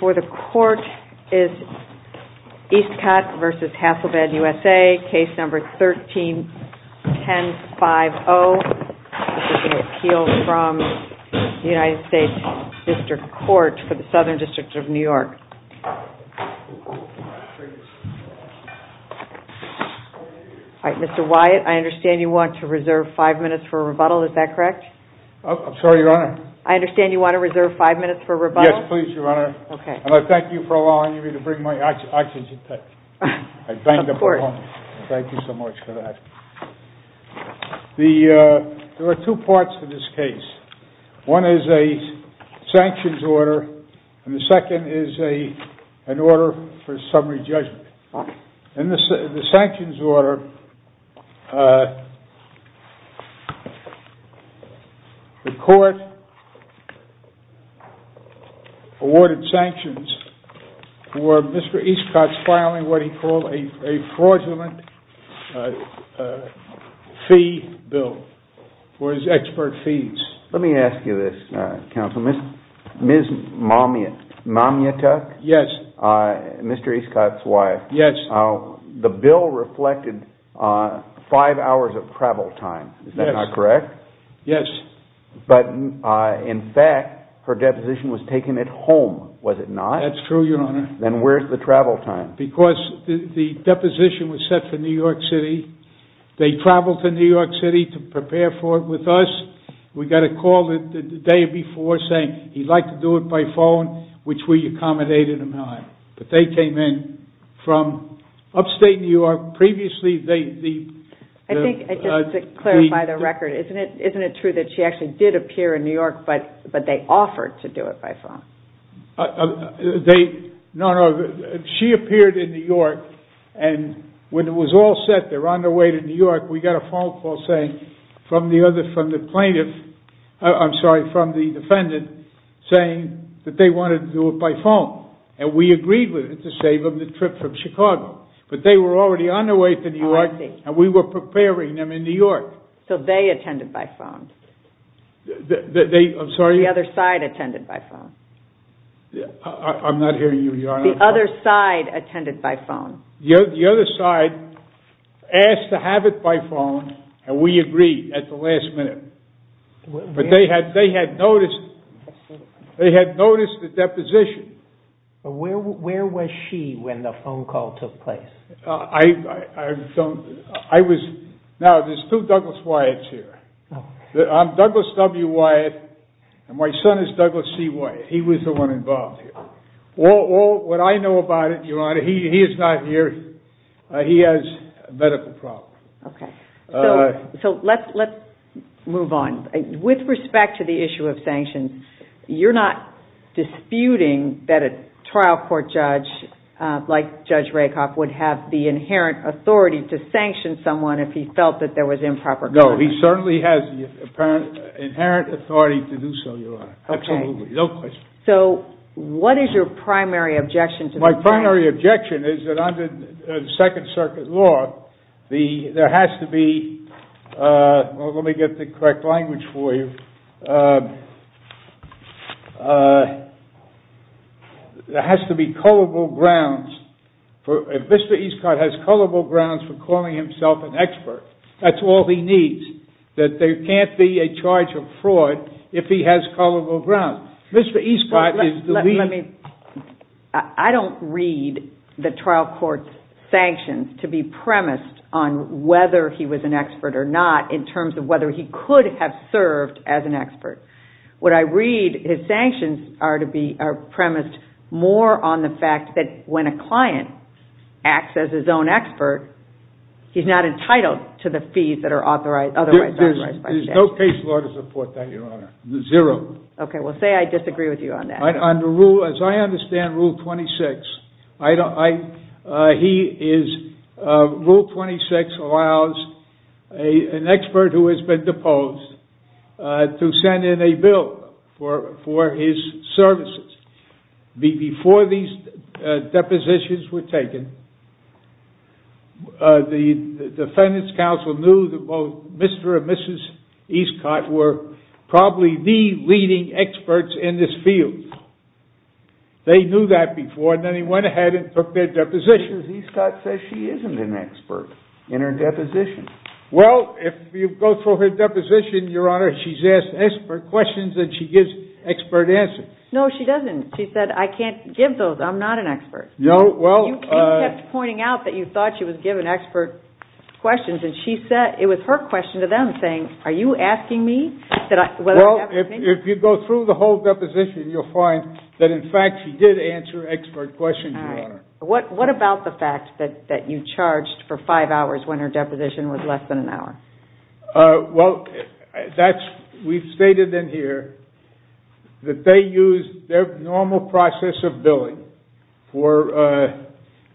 for the court is EASTCOTT v. HASSELBLAD USA, case number 13-10-5-0 this is an appeal from the United States District Court for the Southern District of New York Mr. Wyatt, I understand you want to reserve five minutes for a rebuttal, is that correct? I'm sorry your honor I understand you want to reserve five minutes for a rebuttal Yes please your honor, and I thank you for allowing me to bring my oxygen tank Of course Thank you so much for that There are two parts to this case, one is a sanctions order and the second is an order for summary judgment In the sanctions order, the court awarded sanctions for Mr. Eastcott's filing what he called a fraudulent fee bill, for his expert fees Let me ask you this counsel, Ms. Mamiatuk, Mr. Eastcott's wife, the bill reflected five hours of travel time, is that not correct? Yes But in fact, her deposition was taken at home, was it not? That's true your honor Then where's the travel time? Because the deposition was set for New York City, they traveled to New York City to prepare for it with us, we got a call the day before saying he'd like to do it by phone, which we accommodated him on But they came in from upstate New York, previously they I think, just to clarify the record, isn't it true that she actually did appear in New York, but they offered to do it by phone? No, no, she appeared in New York, and when it was all set, they were on their way to New York, we got a phone call saying, from the plaintiff, I'm sorry, from the defendant, saying that they wanted to do it by phone And we agreed with it to save them the trip from Chicago, but they were already on their way to New York, and we were preparing them in New York So they attended by phone? I'm sorry? The other side attended by phone I'm not hearing you your honor The other side attended by phone The other side asked to have it by phone, and we agreed at the last minute But they had noticed the deposition But where was she when the phone call took place? Now, there's two Douglas Wyatt's here I'm Douglas W. Wyatt, and my son is Douglas C. Wyatt, he was the one involved here What I know about it, your honor, he is not here, he has medical problems So let's move on, with respect to the issue of sanctions, you're not disputing that a trial court judge, like Judge Rakoff, would have the inherent authority to sanction someone if he felt that there was improper conduct? No, he certainly has inherent authority to do so, your honor, absolutely, no question So, what is your primary objection? My primary objection is that under the second circuit law, there has to be, let me get the correct language for you There has to be culpable grounds, if Mr. Eastcott has culpable grounds for calling himself an expert, that's all he needs That there can't be a charge of fraud if he has culpable grounds I don't read the trial court's sanctions to be premised on whether he was an expert or not, in terms of whether he could have served as an expert What I read, his sanctions are premised more on the fact that when a client acts as his own expert, he's not entitled to the fees that are otherwise authorized by the statute There's no case law to support that, your honor, zero Okay, well say I disagree with you on that As I understand rule 26, rule 26 allows an expert who has been deposed to send in a bill for his services Before these depositions were taken, the defendants council knew that Mr. and Mrs. Eastcott were probably the leading experts in this field They knew that before, and then they went ahead and took their depositions Mr. Eastcott says she isn't an expert in her deposition Well, if you go through her deposition, your honor, she's asked expert questions and she gives expert answers No, she doesn't. She said, I can't give those, I'm not an expert No, well You kept pointing out that you thought she was giving expert questions, and it was her question to them, saying, are you asking me? Well, if you go through the whole deposition, you'll find that in fact she did answer expert questions, your honor What about the fact that you charged for five hours when her deposition was less than an hour? Well, we've stated in here that they use their normal process of billing for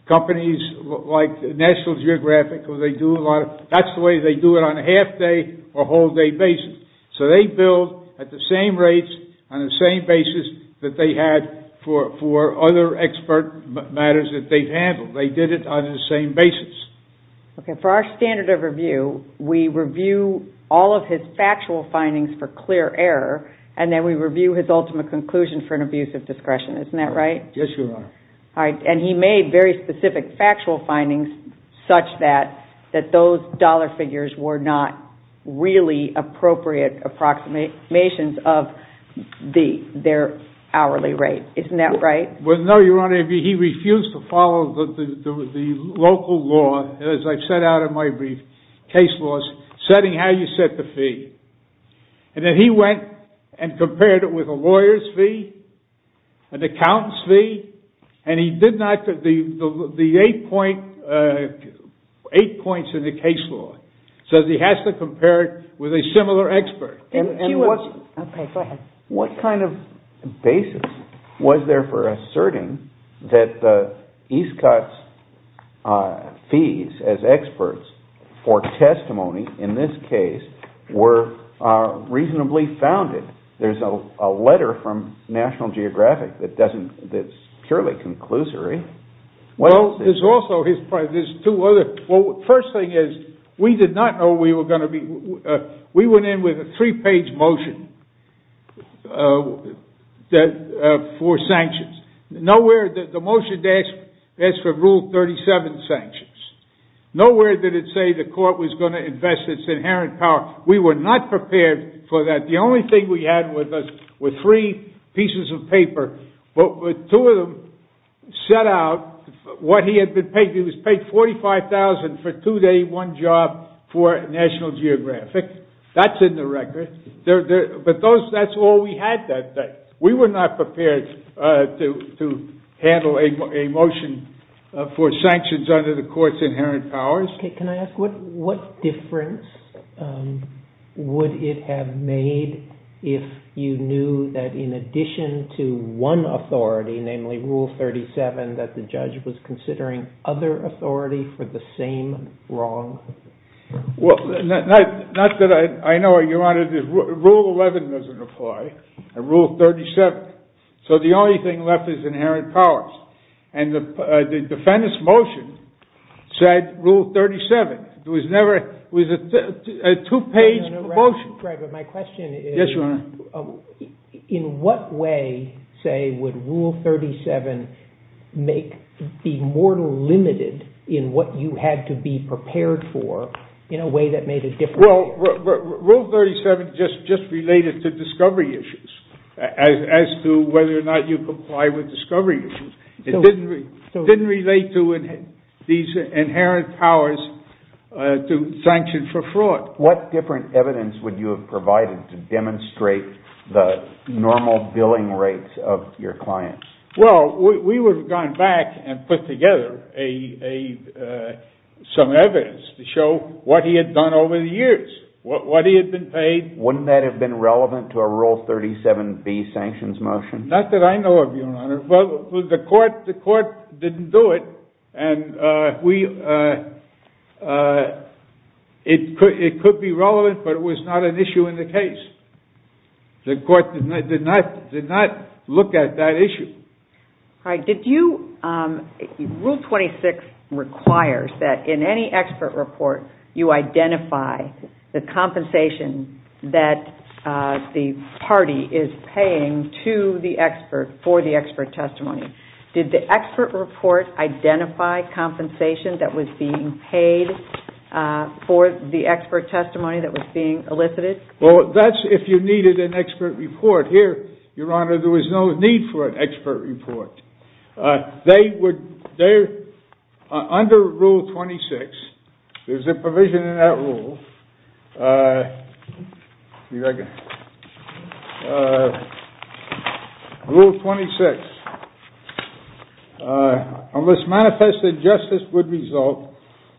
companies like National Geographic That's the way they do it on a half day or whole day basis So they bill at the same rates on the same basis that they had for other expert matters that they've handled They did it on the same basis Okay, for our standard of review, we review all of his factual findings for clear error And then we review his ultimate conclusion for an abuse of discretion, isn't that right? Yes, your honor All right, and he made very specific factual findings such that those dollar figures were not really appropriate approximations of their hourly rate, isn't that right? No, your honor, he refused to follow the local law, as I've set out in my brief, case laws, setting how you set the fee And then he went and compared it with a lawyer's fee, an accountant's fee, and he did not, the eight points in the case law So he has to compare it with a similar expert Okay, go ahead What kind of basis was there for asserting that Eastcott's fees as experts for testimony in this case were reasonably founded? There's a letter from National Geographic that's purely conclusory Well, there's also, there's two other, first thing is, we did not know we were going to be, we went in with a three page motion for sanctions Nowhere did the motion ask for rule 37 sanctions Nowhere did it say the court was going to invest its inherent power We were not prepared for that, the only thing we had with us were three pieces of paper, but two of them set out what he had been paid He was paid $45,000 for two day, one job for National Geographic That's in the record, but that's all we had that day We were not prepared to handle a motion for sanctions under the court's inherent powers Okay, can I ask, what difference would it have made if you knew that in addition to one authority, namely rule 37, that the judge was considering other authority for the same wrong? Well, not that I know of, your honor, rule 11 doesn't apply, and rule 37, so the only thing left is inherent powers And the defendant's motion said rule 37, it was never, it was a two page motion Right, but my question is, in what way, say, would rule 37 make, be more limited in what you had to be prepared for in a way that made a difference Well, rule 37 just related to discovery issues, as to whether or not you comply with discovery issues It didn't relate to these inherent powers to sanction for fraud What different evidence would you have provided to demonstrate the normal billing rates of your clients? Well, we would have gone back and put together some evidence to show what he had done over the years, what he had been paid Wouldn't that have been relevant to a rule 37b sanctions motion? Not that I know of, your honor, but the court didn't do it, and it could be relevant, but it was not an issue in the case The court did not look at that issue All right, did you, rule 26 requires that in any expert report, you identify the compensation that the party is paying to the expert for the expert testimony Did the expert report identify compensation that was being paid for the expert testimony that was being elicited? Well, that's if you needed an expert report, here, your honor, there was no need for an expert report They would, under rule 26, there's a provision in that rule Rule 26, unless manifest injustice would result,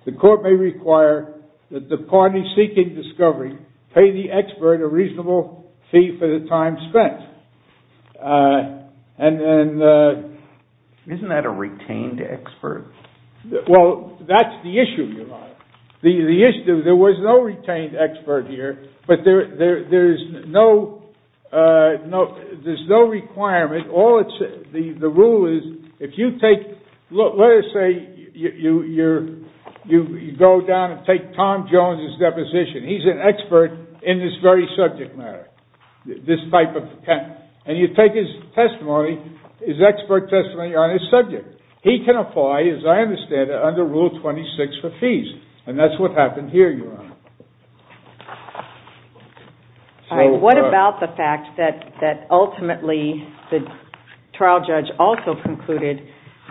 the court may require that the party seeking discovery pay the expert a reasonable fee for the time spent Isn't that a retained expert? Well, that's the issue, your honor, there was no retained expert here, but there's no requirement, the rule is, if you take, let's say you go down and take Tom Jones' deposition He's an expert in this very subject matter, this type of, and you take his testimony, his expert testimony on his subject, he can apply, as I understand it, under rule 26 for fees, and that's what happened here, your honor What about the fact that ultimately the trial judge also concluded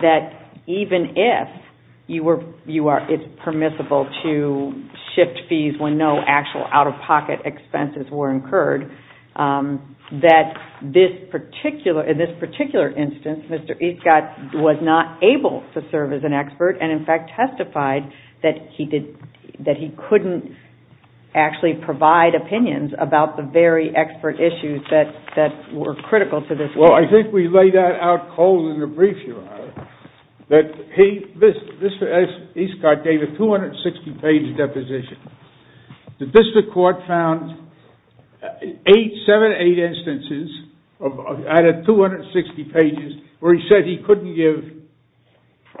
that even if it's permissible to shift fees when no actual out-of-pocket expenses were incurred That in this particular instance, Mr. Eastcott was not able to serve as an expert, and in fact testified that he couldn't actually provide opinions about the very expert issues that were critical to this case Well, I think we laid that out cold in the brief, your honor, that Mr. Eastcott gave a 260 page deposition, the district court found 8, 7, 8 instances out of 260 pages where he said he couldn't give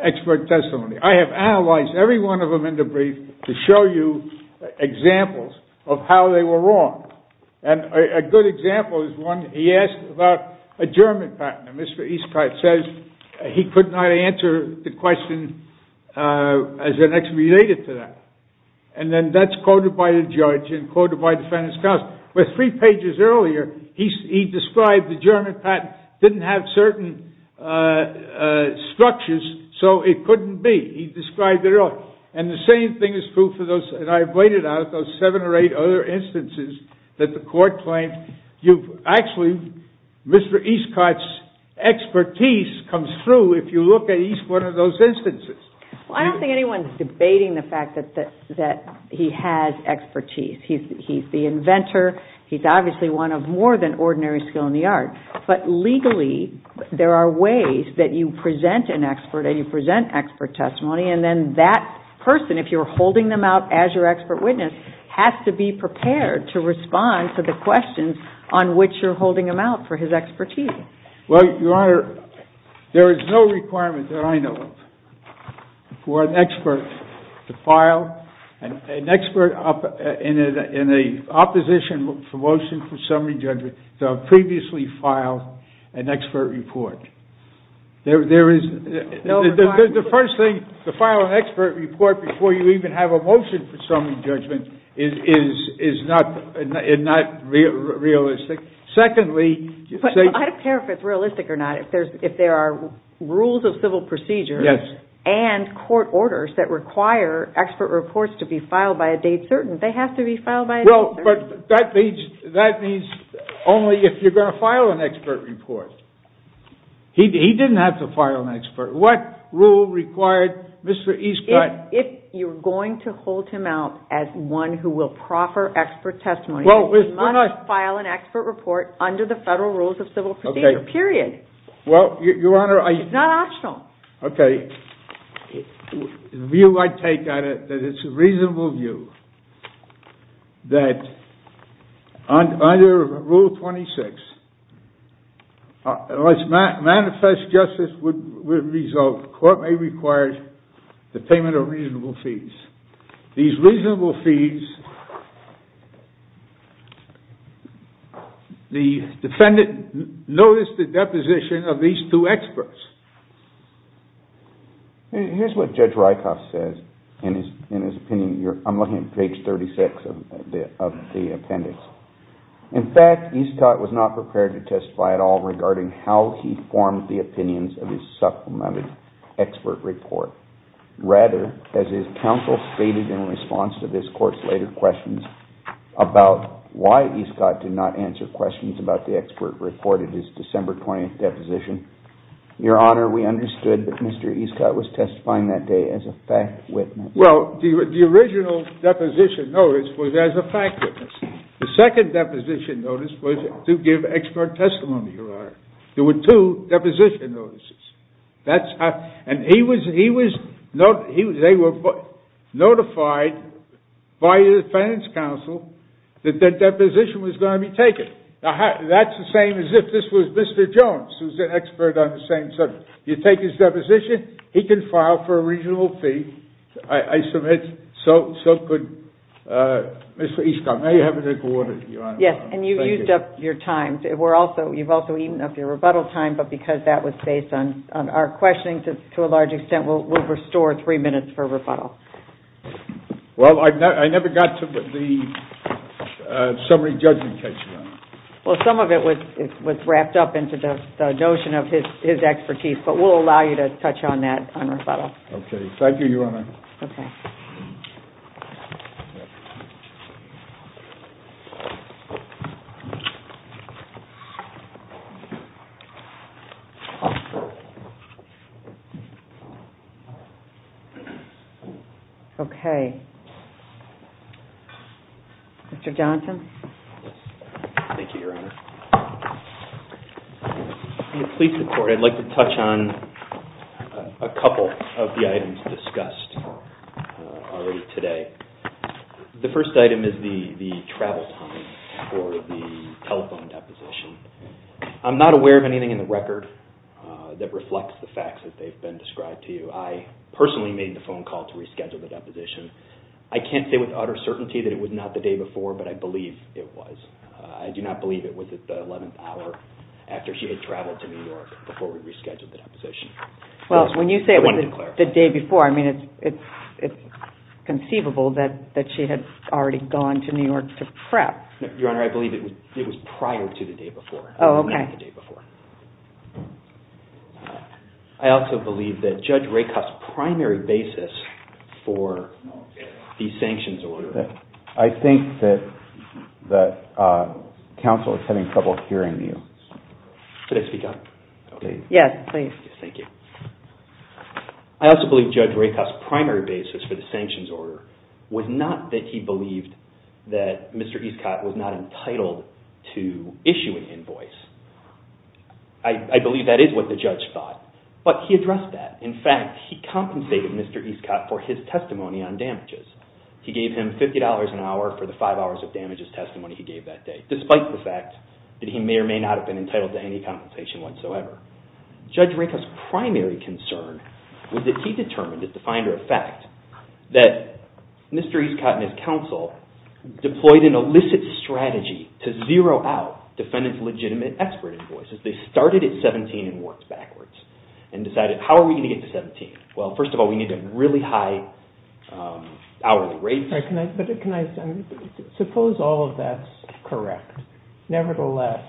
expert testimony I have analyzed every one of them in the brief to show you examples of how they were wrong, and a good example is one he asked about a German patent, and Mr. Eastcott says he could not answer the question as it actually related to that Well, I don't think anyone is debating the fact that he has expertise, he's the inventor, he's obviously one of more than ordinary skill in the art, but legally, there are ways that you present an expert and you present expert testimony to the court, and I think that's what Mr. Eastcott did And then that person, if you're holding them out as your expert witness, has to be prepared to respond to the questions on which you're holding them out for his expertise Well, your honor, there is no requirement that I know of for an expert to file an expert, in an opposition motion for summary judgment, to have previously filed an expert report The first thing, to file an expert report before you even have a motion for summary judgment is not realistic, secondly I don't care if it's realistic or not, if there are rules of civil procedure and court orders that require expert reports to be filed by a date certain, they have to be filed by a date certain But that means only if you're going to file an expert report, he didn't have to file an expert, what rule required Mr. Eastcott If you're going to hold him out as one who will proffer expert testimony, he must file an expert report under the federal rules of civil procedure, period Well, your honor It's not optional Okay, the view I take on it, that it's a reasonable view, that under rule 26, unless manifest justice would result, the court may require the payment of reasonable fees These reasonable fees, the defendant noticed the deposition of these two experts Here's what Judge Rykoff says, in his opinion, I'm looking at page 36 of the appendix In fact, Eastcott was not prepared to testify at all regarding how he formed the opinions of his supplemented expert report Rather, as his counsel stated in response to this court's later questions about why Eastcott did not answer questions about the expert report in his December 20th deposition Your honor, we understood that Mr. Eastcott was testifying that day as a fact witness Well, the original deposition notice was as a fact witness The second deposition notice was to give expert testimony, your honor There were two deposition notices And they were notified by the defense counsel that their deposition was going to be taken That's the same as if this was Mr. Jones, who's an expert on the same subject You take his deposition, he can file for a reasonable fee I submit, so could Mr. Eastcott May I have a drink of water, your honor? Yes, and you've used up your time You've also eaten up your rebuttal time, but because that was based on our questioning, to a large extent, we'll restore three minutes for rebuttal Well, I never got to the summary judgment question Well, some of it was wrapped up into the notion of his expertise, but we'll allow you to touch on that on rebuttal Okay, thank you, your honor Okay Okay Mr. Johnson Thank you, your honor In the police report, I'd like to touch on a couple of the items discussed already today The first item is the travel time for the telephone deposition I'm not aware of anything in the record that reflects the facts as they've been described to you I personally made the phone call to reschedule the deposition I can't say with utter certainty that it was not the day before, but I believe it was I do not believe it was at the eleventh hour after she had traveled to New York before we rescheduled the deposition Well, when you say it was the day before, I mean, it's conceivable that she had already gone to New York to prep No, your honor, I believe it was prior to the day before Oh, okay I also believe that Judge Rakoff's primary basis for the sanctions order I think that counsel is having trouble hearing you Can I speak up? Yes, please Thank you I also believe Judge Rakoff's primary basis for the sanctions order was not that he believed that Mr. Escott was not entitled to issue an invoice I believe that is what the judge thought, but he addressed that In fact, he compensated Mr. Escott for his testimony on damages He gave him $50 an hour for the five hours of damages testimony he gave that day despite the fact that he may or may not have been entitled to any compensation whatsoever Judge Rakoff's primary concern was that he determined at the finder of fact that Mr. Escott and his counsel deployed an illicit strategy to zero out defendants' legitimate expert invoices They started at $17 and worked backwards and decided, how are we going to get to $17? Well, first of all, we need a really high hourly rate But suppose all of that's correct Nevertheless,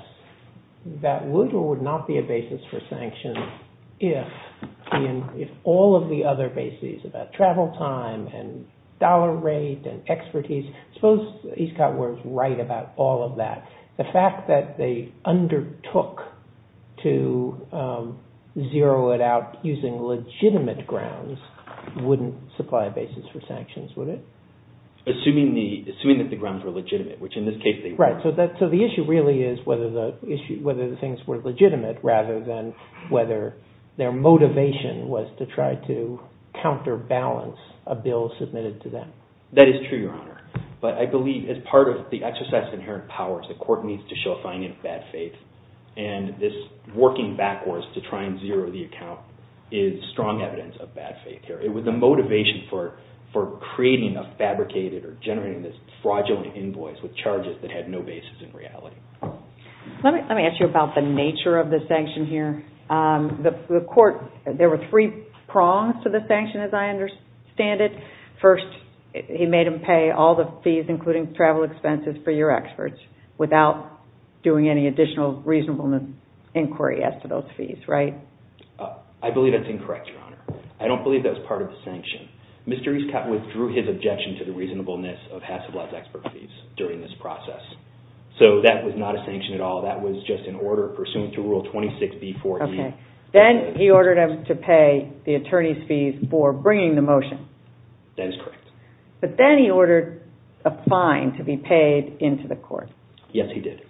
that would or would not be a basis for sanctions if all of the other bases about travel time and dollar rate and expertise Suppose Escott was right about all of that The fact that they undertook to zero it out using legitimate grounds wouldn't supply a basis for sanctions, would it? Assuming that the grounds were legitimate, which in this case they were Right, so the issue really is whether the things were legitimate rather than whether their motivation was to try to counterbalance a bill submitted to them That is true, Your Honor But I believe as part of the exercise of inherent powers, the court needs to show a finding of bad faith And this working backwards to try and zero the account is strong evidence of bad faith here It was the motivation for creating a fabricated or generating this fraudulent invoice with charges that had no basis in reality Let me ask you about the nature of the sanction here The court, there were three prongs to the sanction as I understand it First, he made him pay all the fees including travel expenses for your experts without doing any additional reasonableness inquiry as to those fees, right? I believe that's incorrect, Your Honor I don't believe that was part of the sanction Mr. Escott withdrew his objection to the reasonableness of Hassett-Lutz Expert Fees during this process So that was not a sanction at all, that was just an order pursuant to Rule 26b-4e Then he ordered him to pay the attorney's fees for bringing the motion That is correct But then he ordered a fine to be paid into the court Yes, he did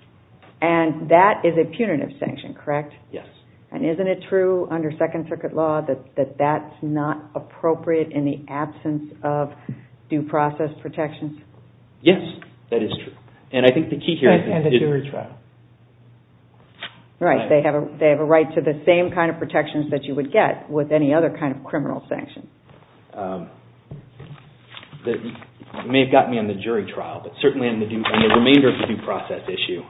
And that is a punitive sanction, correct? Yes And isn't it true under Second Circuit law that that's not appropriate in the absence of due process protections? Yes, that is true And I think the key here is that And the jury trial Right, they have a right to the same kind of protections that you would get with any other kind of criminal sanctions that may have gotten me on the jury trial but certainly in the remainder of the due process issue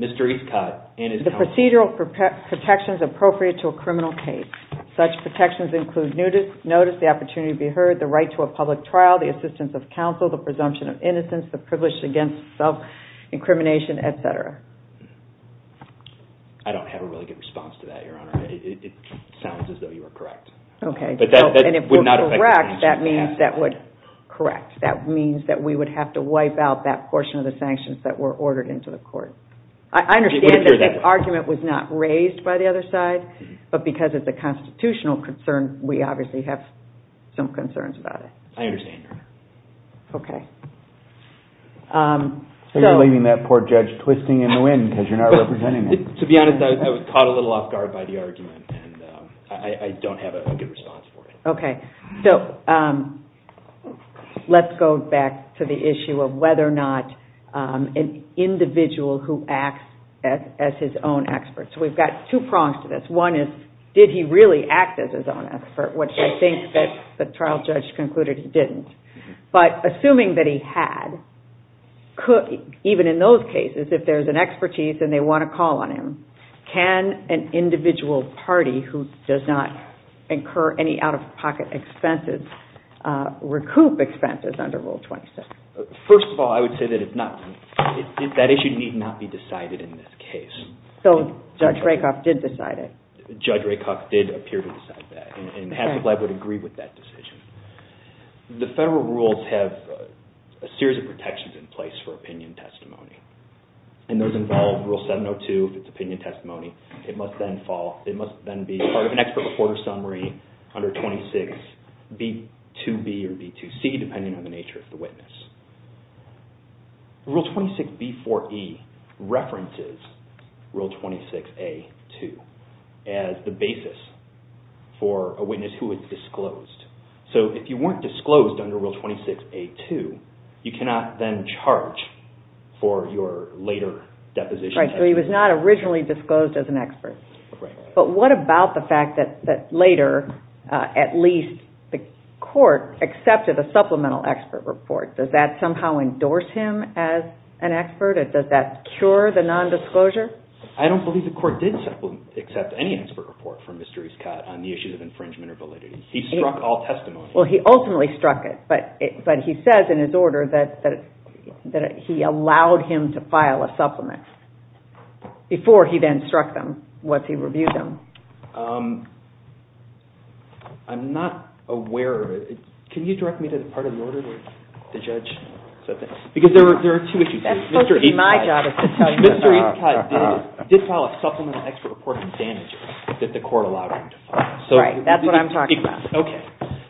Mr. Escott and his counsel The procedural protections appropriate to a criminal case Such protections include notice, the opportunity to be heard, the right to a public trial, the assistance of counsel the presumption of innocence, the privilege against self-incrimination, etc. I don't have a really good response to that, Your Honor It sounds as though you were correct And if we're correct, that means that we would have to wipe out that portion of the sanctions that were ordered into the court I understand that the argument was not raised by the other side but because of the constitutional concern, we obviously have some concerns about it I understand, Your Honor So you're leaving that poor judge twisting in the wind because you're not representing him To be honest, I was caught a little off guard by the argument and I don't have a good response for it Okay, so let's go back to the issue of whether or not an individual who acts as his own expert So we've got two prongs to this One is, did he really act as his own expert, which I think the trial judge concluded he didn't But assuming that he had, even in those cases, if there's an expertise and they want to call on him can an individual party who does not incur any out-of-pocket expenses recoup expenses under Rule 27? First of all, I would say that that issue need not be decided in this case So Judge Rakoff did decide it? Judge Rakoff did appear to decide that And Haskell Lab would agree with that decision The federal rules have a series of protections in place for opinion testimony And those involve Rule 702, if it's opinion testimony It must then be part of an expert report or summary under 26B2B or B2C, depending on the nature of the witness Rule 26B4E references Rule 26A2 as the basis for a witness who is disclosed So if you weren't disclosed under Rule 26A2, you cannot then charge for your later deposition Right, so he was not originally disclosed as an expert But what about the fact that later, at least, the court accepted a supplemental expert report? Does that somehow endorse him as an expert? Does that cure the nondisclosure? I don't believe the court did accept any expert report from Mr. Escott on the issues of infringement or validity He struck all testimony Well, he ultimately struck it, but he says in his order that he allowed him to file a supplement Before he then struck them, once he reviewed them I'm not aware of it. Can you direct me to the part of the order where the judge said that? Because there are two issues That's supposed to be my job, is to tell you that they're wrong Mr. Escott did file a supplemental expert report on damages that the court allowed him to file Right, that's what I'm talking about Okay,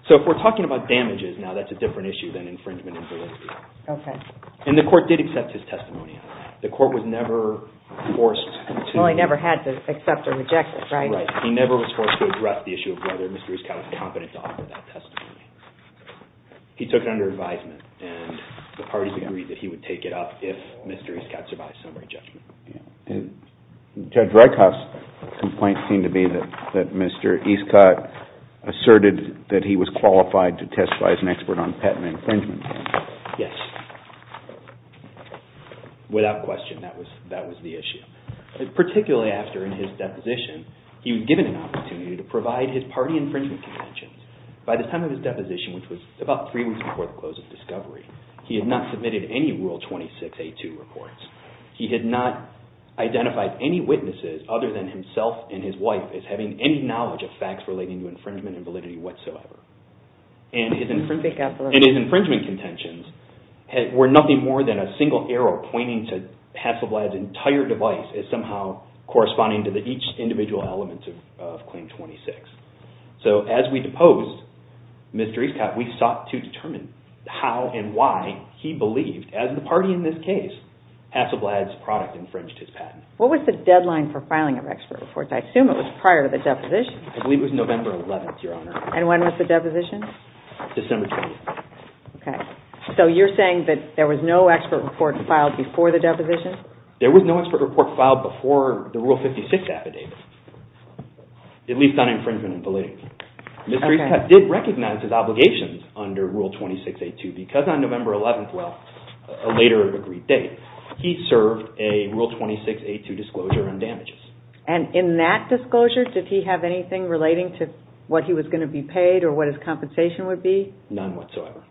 so if we're talking about damages, now that's a different issue than infringement and validity Okay And the court did accept his testimony. The court was never forced to Well, he never had to accept or reject it, right? Right, he never was forced to address the issue of whether Mr. Escott was competent to offer that testimony He took it under advisement, and the parties agreed that he would take it up if Mr. Escott survived summary judgment Judge Redkoff's complaint seemed to be that Mr. Escott asserted that he was qualified to testify as an expert on patent infringement Yes, without question, that was the issue Particularly after in his deposition, he was given an opportunity to provide his party infringement contentions By the time of his deposition, which was about three weeks before the close of discovery He had not submitted any Rule 26A2 reports He had not identified any witnesses other than himself and his wife as having any knowledge of facts relating to infringement and validity whatsoever And his infringement contentions were nothing more than a single arrow pointing to Hasselblad's entire device As somehow corresponding to each individual element of Claim 26 So as we deposed Mr. Escott, we sought to determine how and why he believed, as the party in this case, Hasselblad's product infringed his patent What was the deadline for filing of expert reports? I assume it was prior to the deposition And when was the deposition? December 20th So you're saying that there was no expert report filed before the deposition? There was no expert report filed before the Rule 56 affidavit, at least on infringement and validity Mr. Escott did recognize his obligations under Rule 26A2 because on November 11th, a later agreed date, he served a Rule 26A2 disclosure on damages And in that disclosure, did he have anything relating to what he was going to be paid or what his compensation would be? None whatsoever.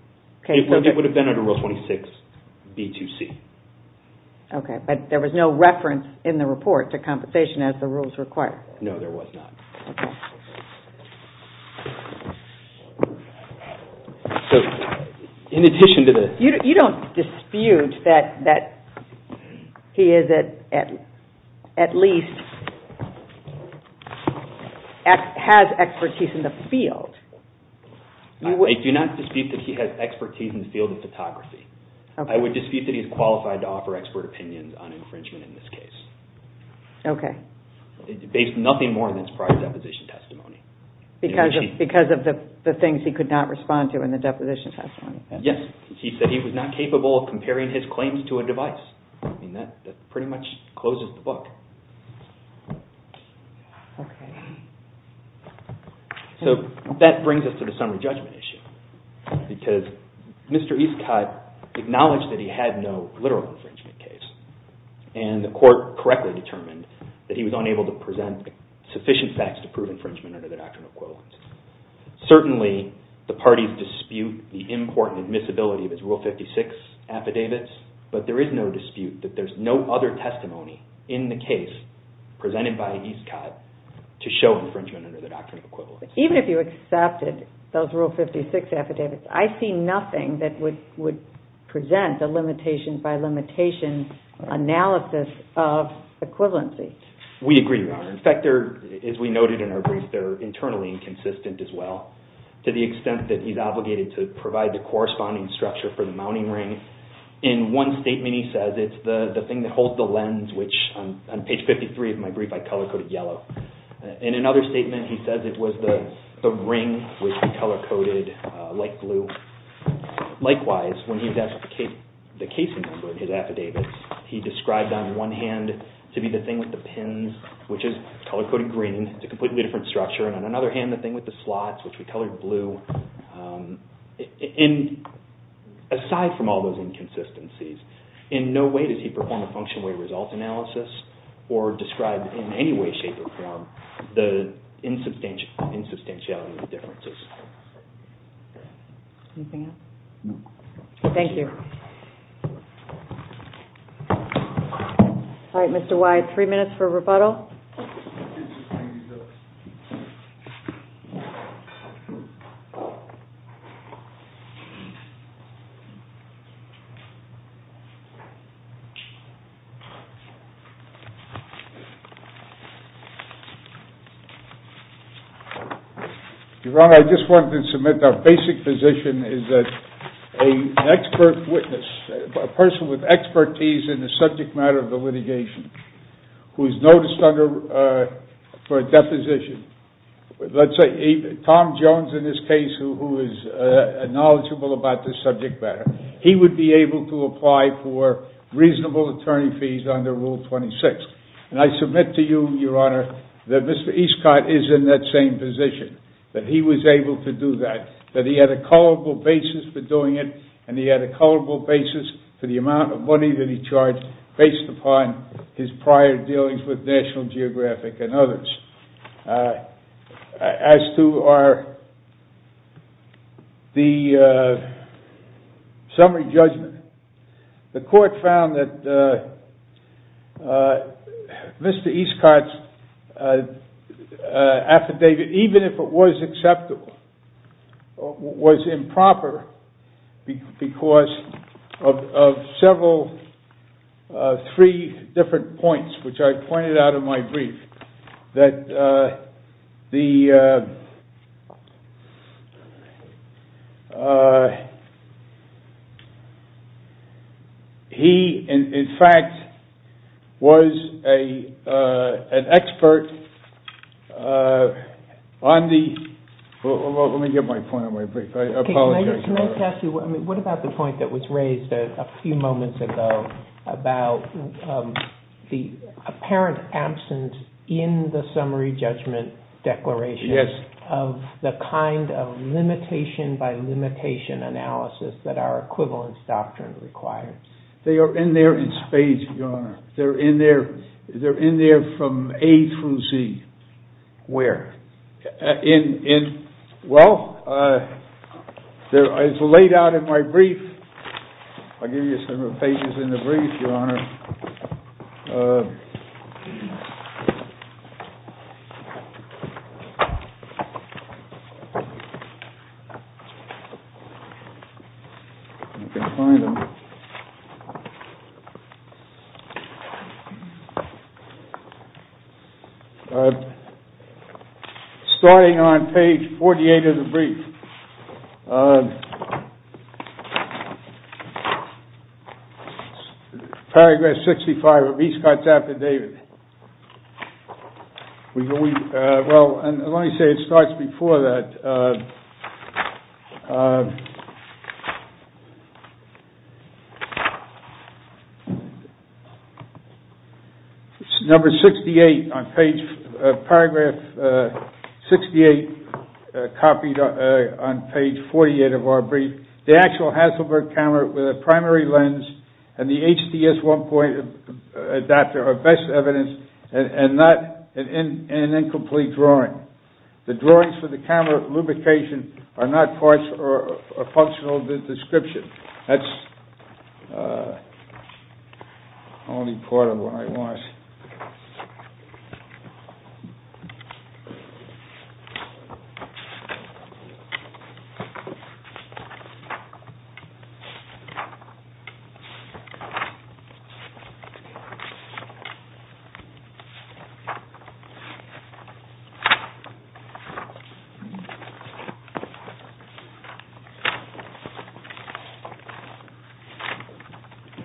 It would have been under Rule 26B2C Okay, but there was no reference in the report to compensation as the rules require No, there was not So, in addition to the... You don't dispute that he at least has expertise in the field I do not dispute that he has expertise in the field of photography I would dispute that he is qualified to offer expert opinions on infringement in this case Okay Based nothing more than his prior deposition testimony Because of the things he could not respond to in the deposition testimony Yes, he said he was not capable of comparing his claims to a device That pretty much closes the book So that brings us to the summary judgment issue Because Mr. Escott acknowledged that he had no literal infringement case And the court correctly determined that he was unable to present sufficient facts to prove infringement under the Doctrine of Equivalence Certainly, the parties dispute the import and admissibility of his Rule 56 affidavits But there is no dispute that there is no other testimony in the case presented by Escott to show infringement under the Doctrine of Equivalence Even if you accepted those Rule 56 affidavits I see nothing that would present a limitation by limitation analysis of equivalency We agree, Your Honor In fact, as we noted in our brief, they're internally inconsistent as well To the extent that he's obligated to provide the corresponding structure for the mounting ring In one statement he says it's the thing that holds the lens Which on page 53 of my brief I color-coded yellow In another statement he says it was the ring which he color-coded light blue Likewise, when he identified the casing of his affidavits He described on one hand to be the thing with the pins Which is color-coded green It's a completely different structure And on another hand, the thing with the slots which we colored blue And aside from all those inconsistencies In no way does he perform a function-weighted result analysis Or describe in any way, shape, or form the insubstantiality of the differences Anything else? No Thank you All right, Mr. Whyte, three minutes for rebuttal Your Honor, I just wanted to submit that our basic position is that An expert witness, a person with expertise in the subject matter of the litigation Who is noticed for a deposition Let's say Tom Jones in this case who is knowledgeable about this subject matter He would be able to apply for reasonable attorney fees under Rule 26 And I submit to you, Your Honor, that Mr. Escott is in that same position That he was able to do that That he had a callable basis for doing it And he had a callable basis for the amount of money that he charged Based upon his prior dealings with National Geographic and others As to our... The summary judgment The court found that Mr. Escott's affidavit Even if it was acceptable Was improper because of several, three different points Which I pointed out in my brief That the... He, in fact, was an expert on the... Let me get my point on my brief, I apologize Can I ask you, what about the point that was raised a few moments ago About the apparent absence in the summary judgment declaration Of the kind of limitation by limitation analysis that our equivalence doctrine requires They are in there in spades, Your Honor They're in there from A through Z Where? In... Well, it's laid out in my brief I'll give you some of the pages in the brief, Your Honor You can find them Starting on page 48 of the brief Paragraph 65 of Escott's affidavit Well, let me say it starts before that Number 68 on page... Paragraph 68 copied on page 48 of our brief The actual Hasselberg camera with a primary lens And the HDS 1.0 adapter are best evidence And not an incomplete drawing The drawings for the camera lubrication are not parts or functional description That's only part of what I want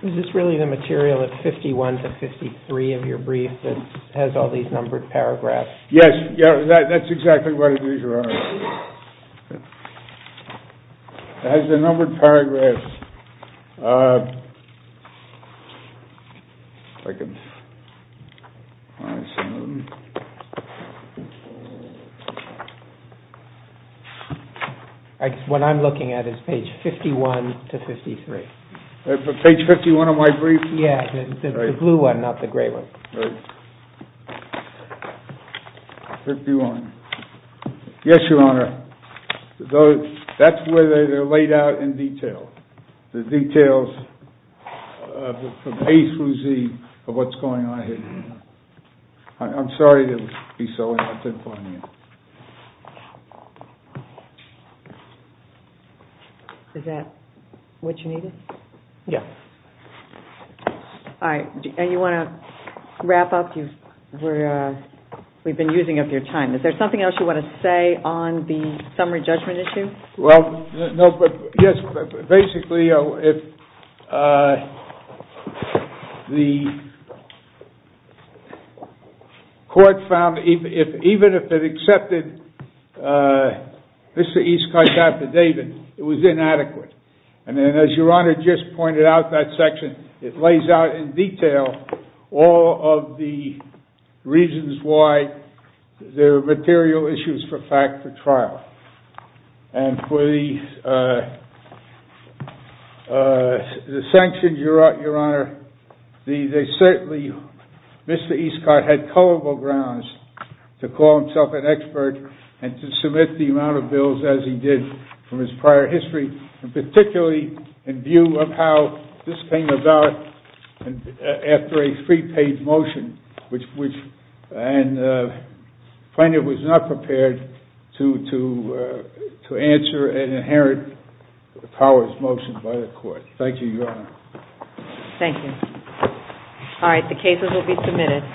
Is this really the material of 51 to 53 of your brief that has all these numbered paragraphs? Yes, that's exactly what it is, Your Honor It has the numbered paragraphs What I'm looking at is page 51 to 53 Page 51 of my brief? Yes, the blue one, not the gray one Right 51 Yes, Your Honor That's where they're laid out in detail The details from A through Z of what's going on here I'm sorry to be so absent-minded Is that what you needed? Yes And you want to wrap up? We've been using up your time Is there something else you want to say on the summary judgment issue? Well, no, but yes Basically, if the court found... Even if it accepted Mr. Eastcott's affidavit, it was inadequate And as Your Honor just pointed out, that section It lays out in detail all of the reasons why there are material issues for fact for trial And for the sanctions, Your Honor They certainly... Mr. Eastcott had culpable grounds to call himself an expert And to submit the amount of bills as he did from his prior history And particularly in view of how this came about after a prepaid motion And the plaintiff was not prepared to answer an inherent powers motion by the court Thank you, Your Honor Thank you All right, the cases will be submitted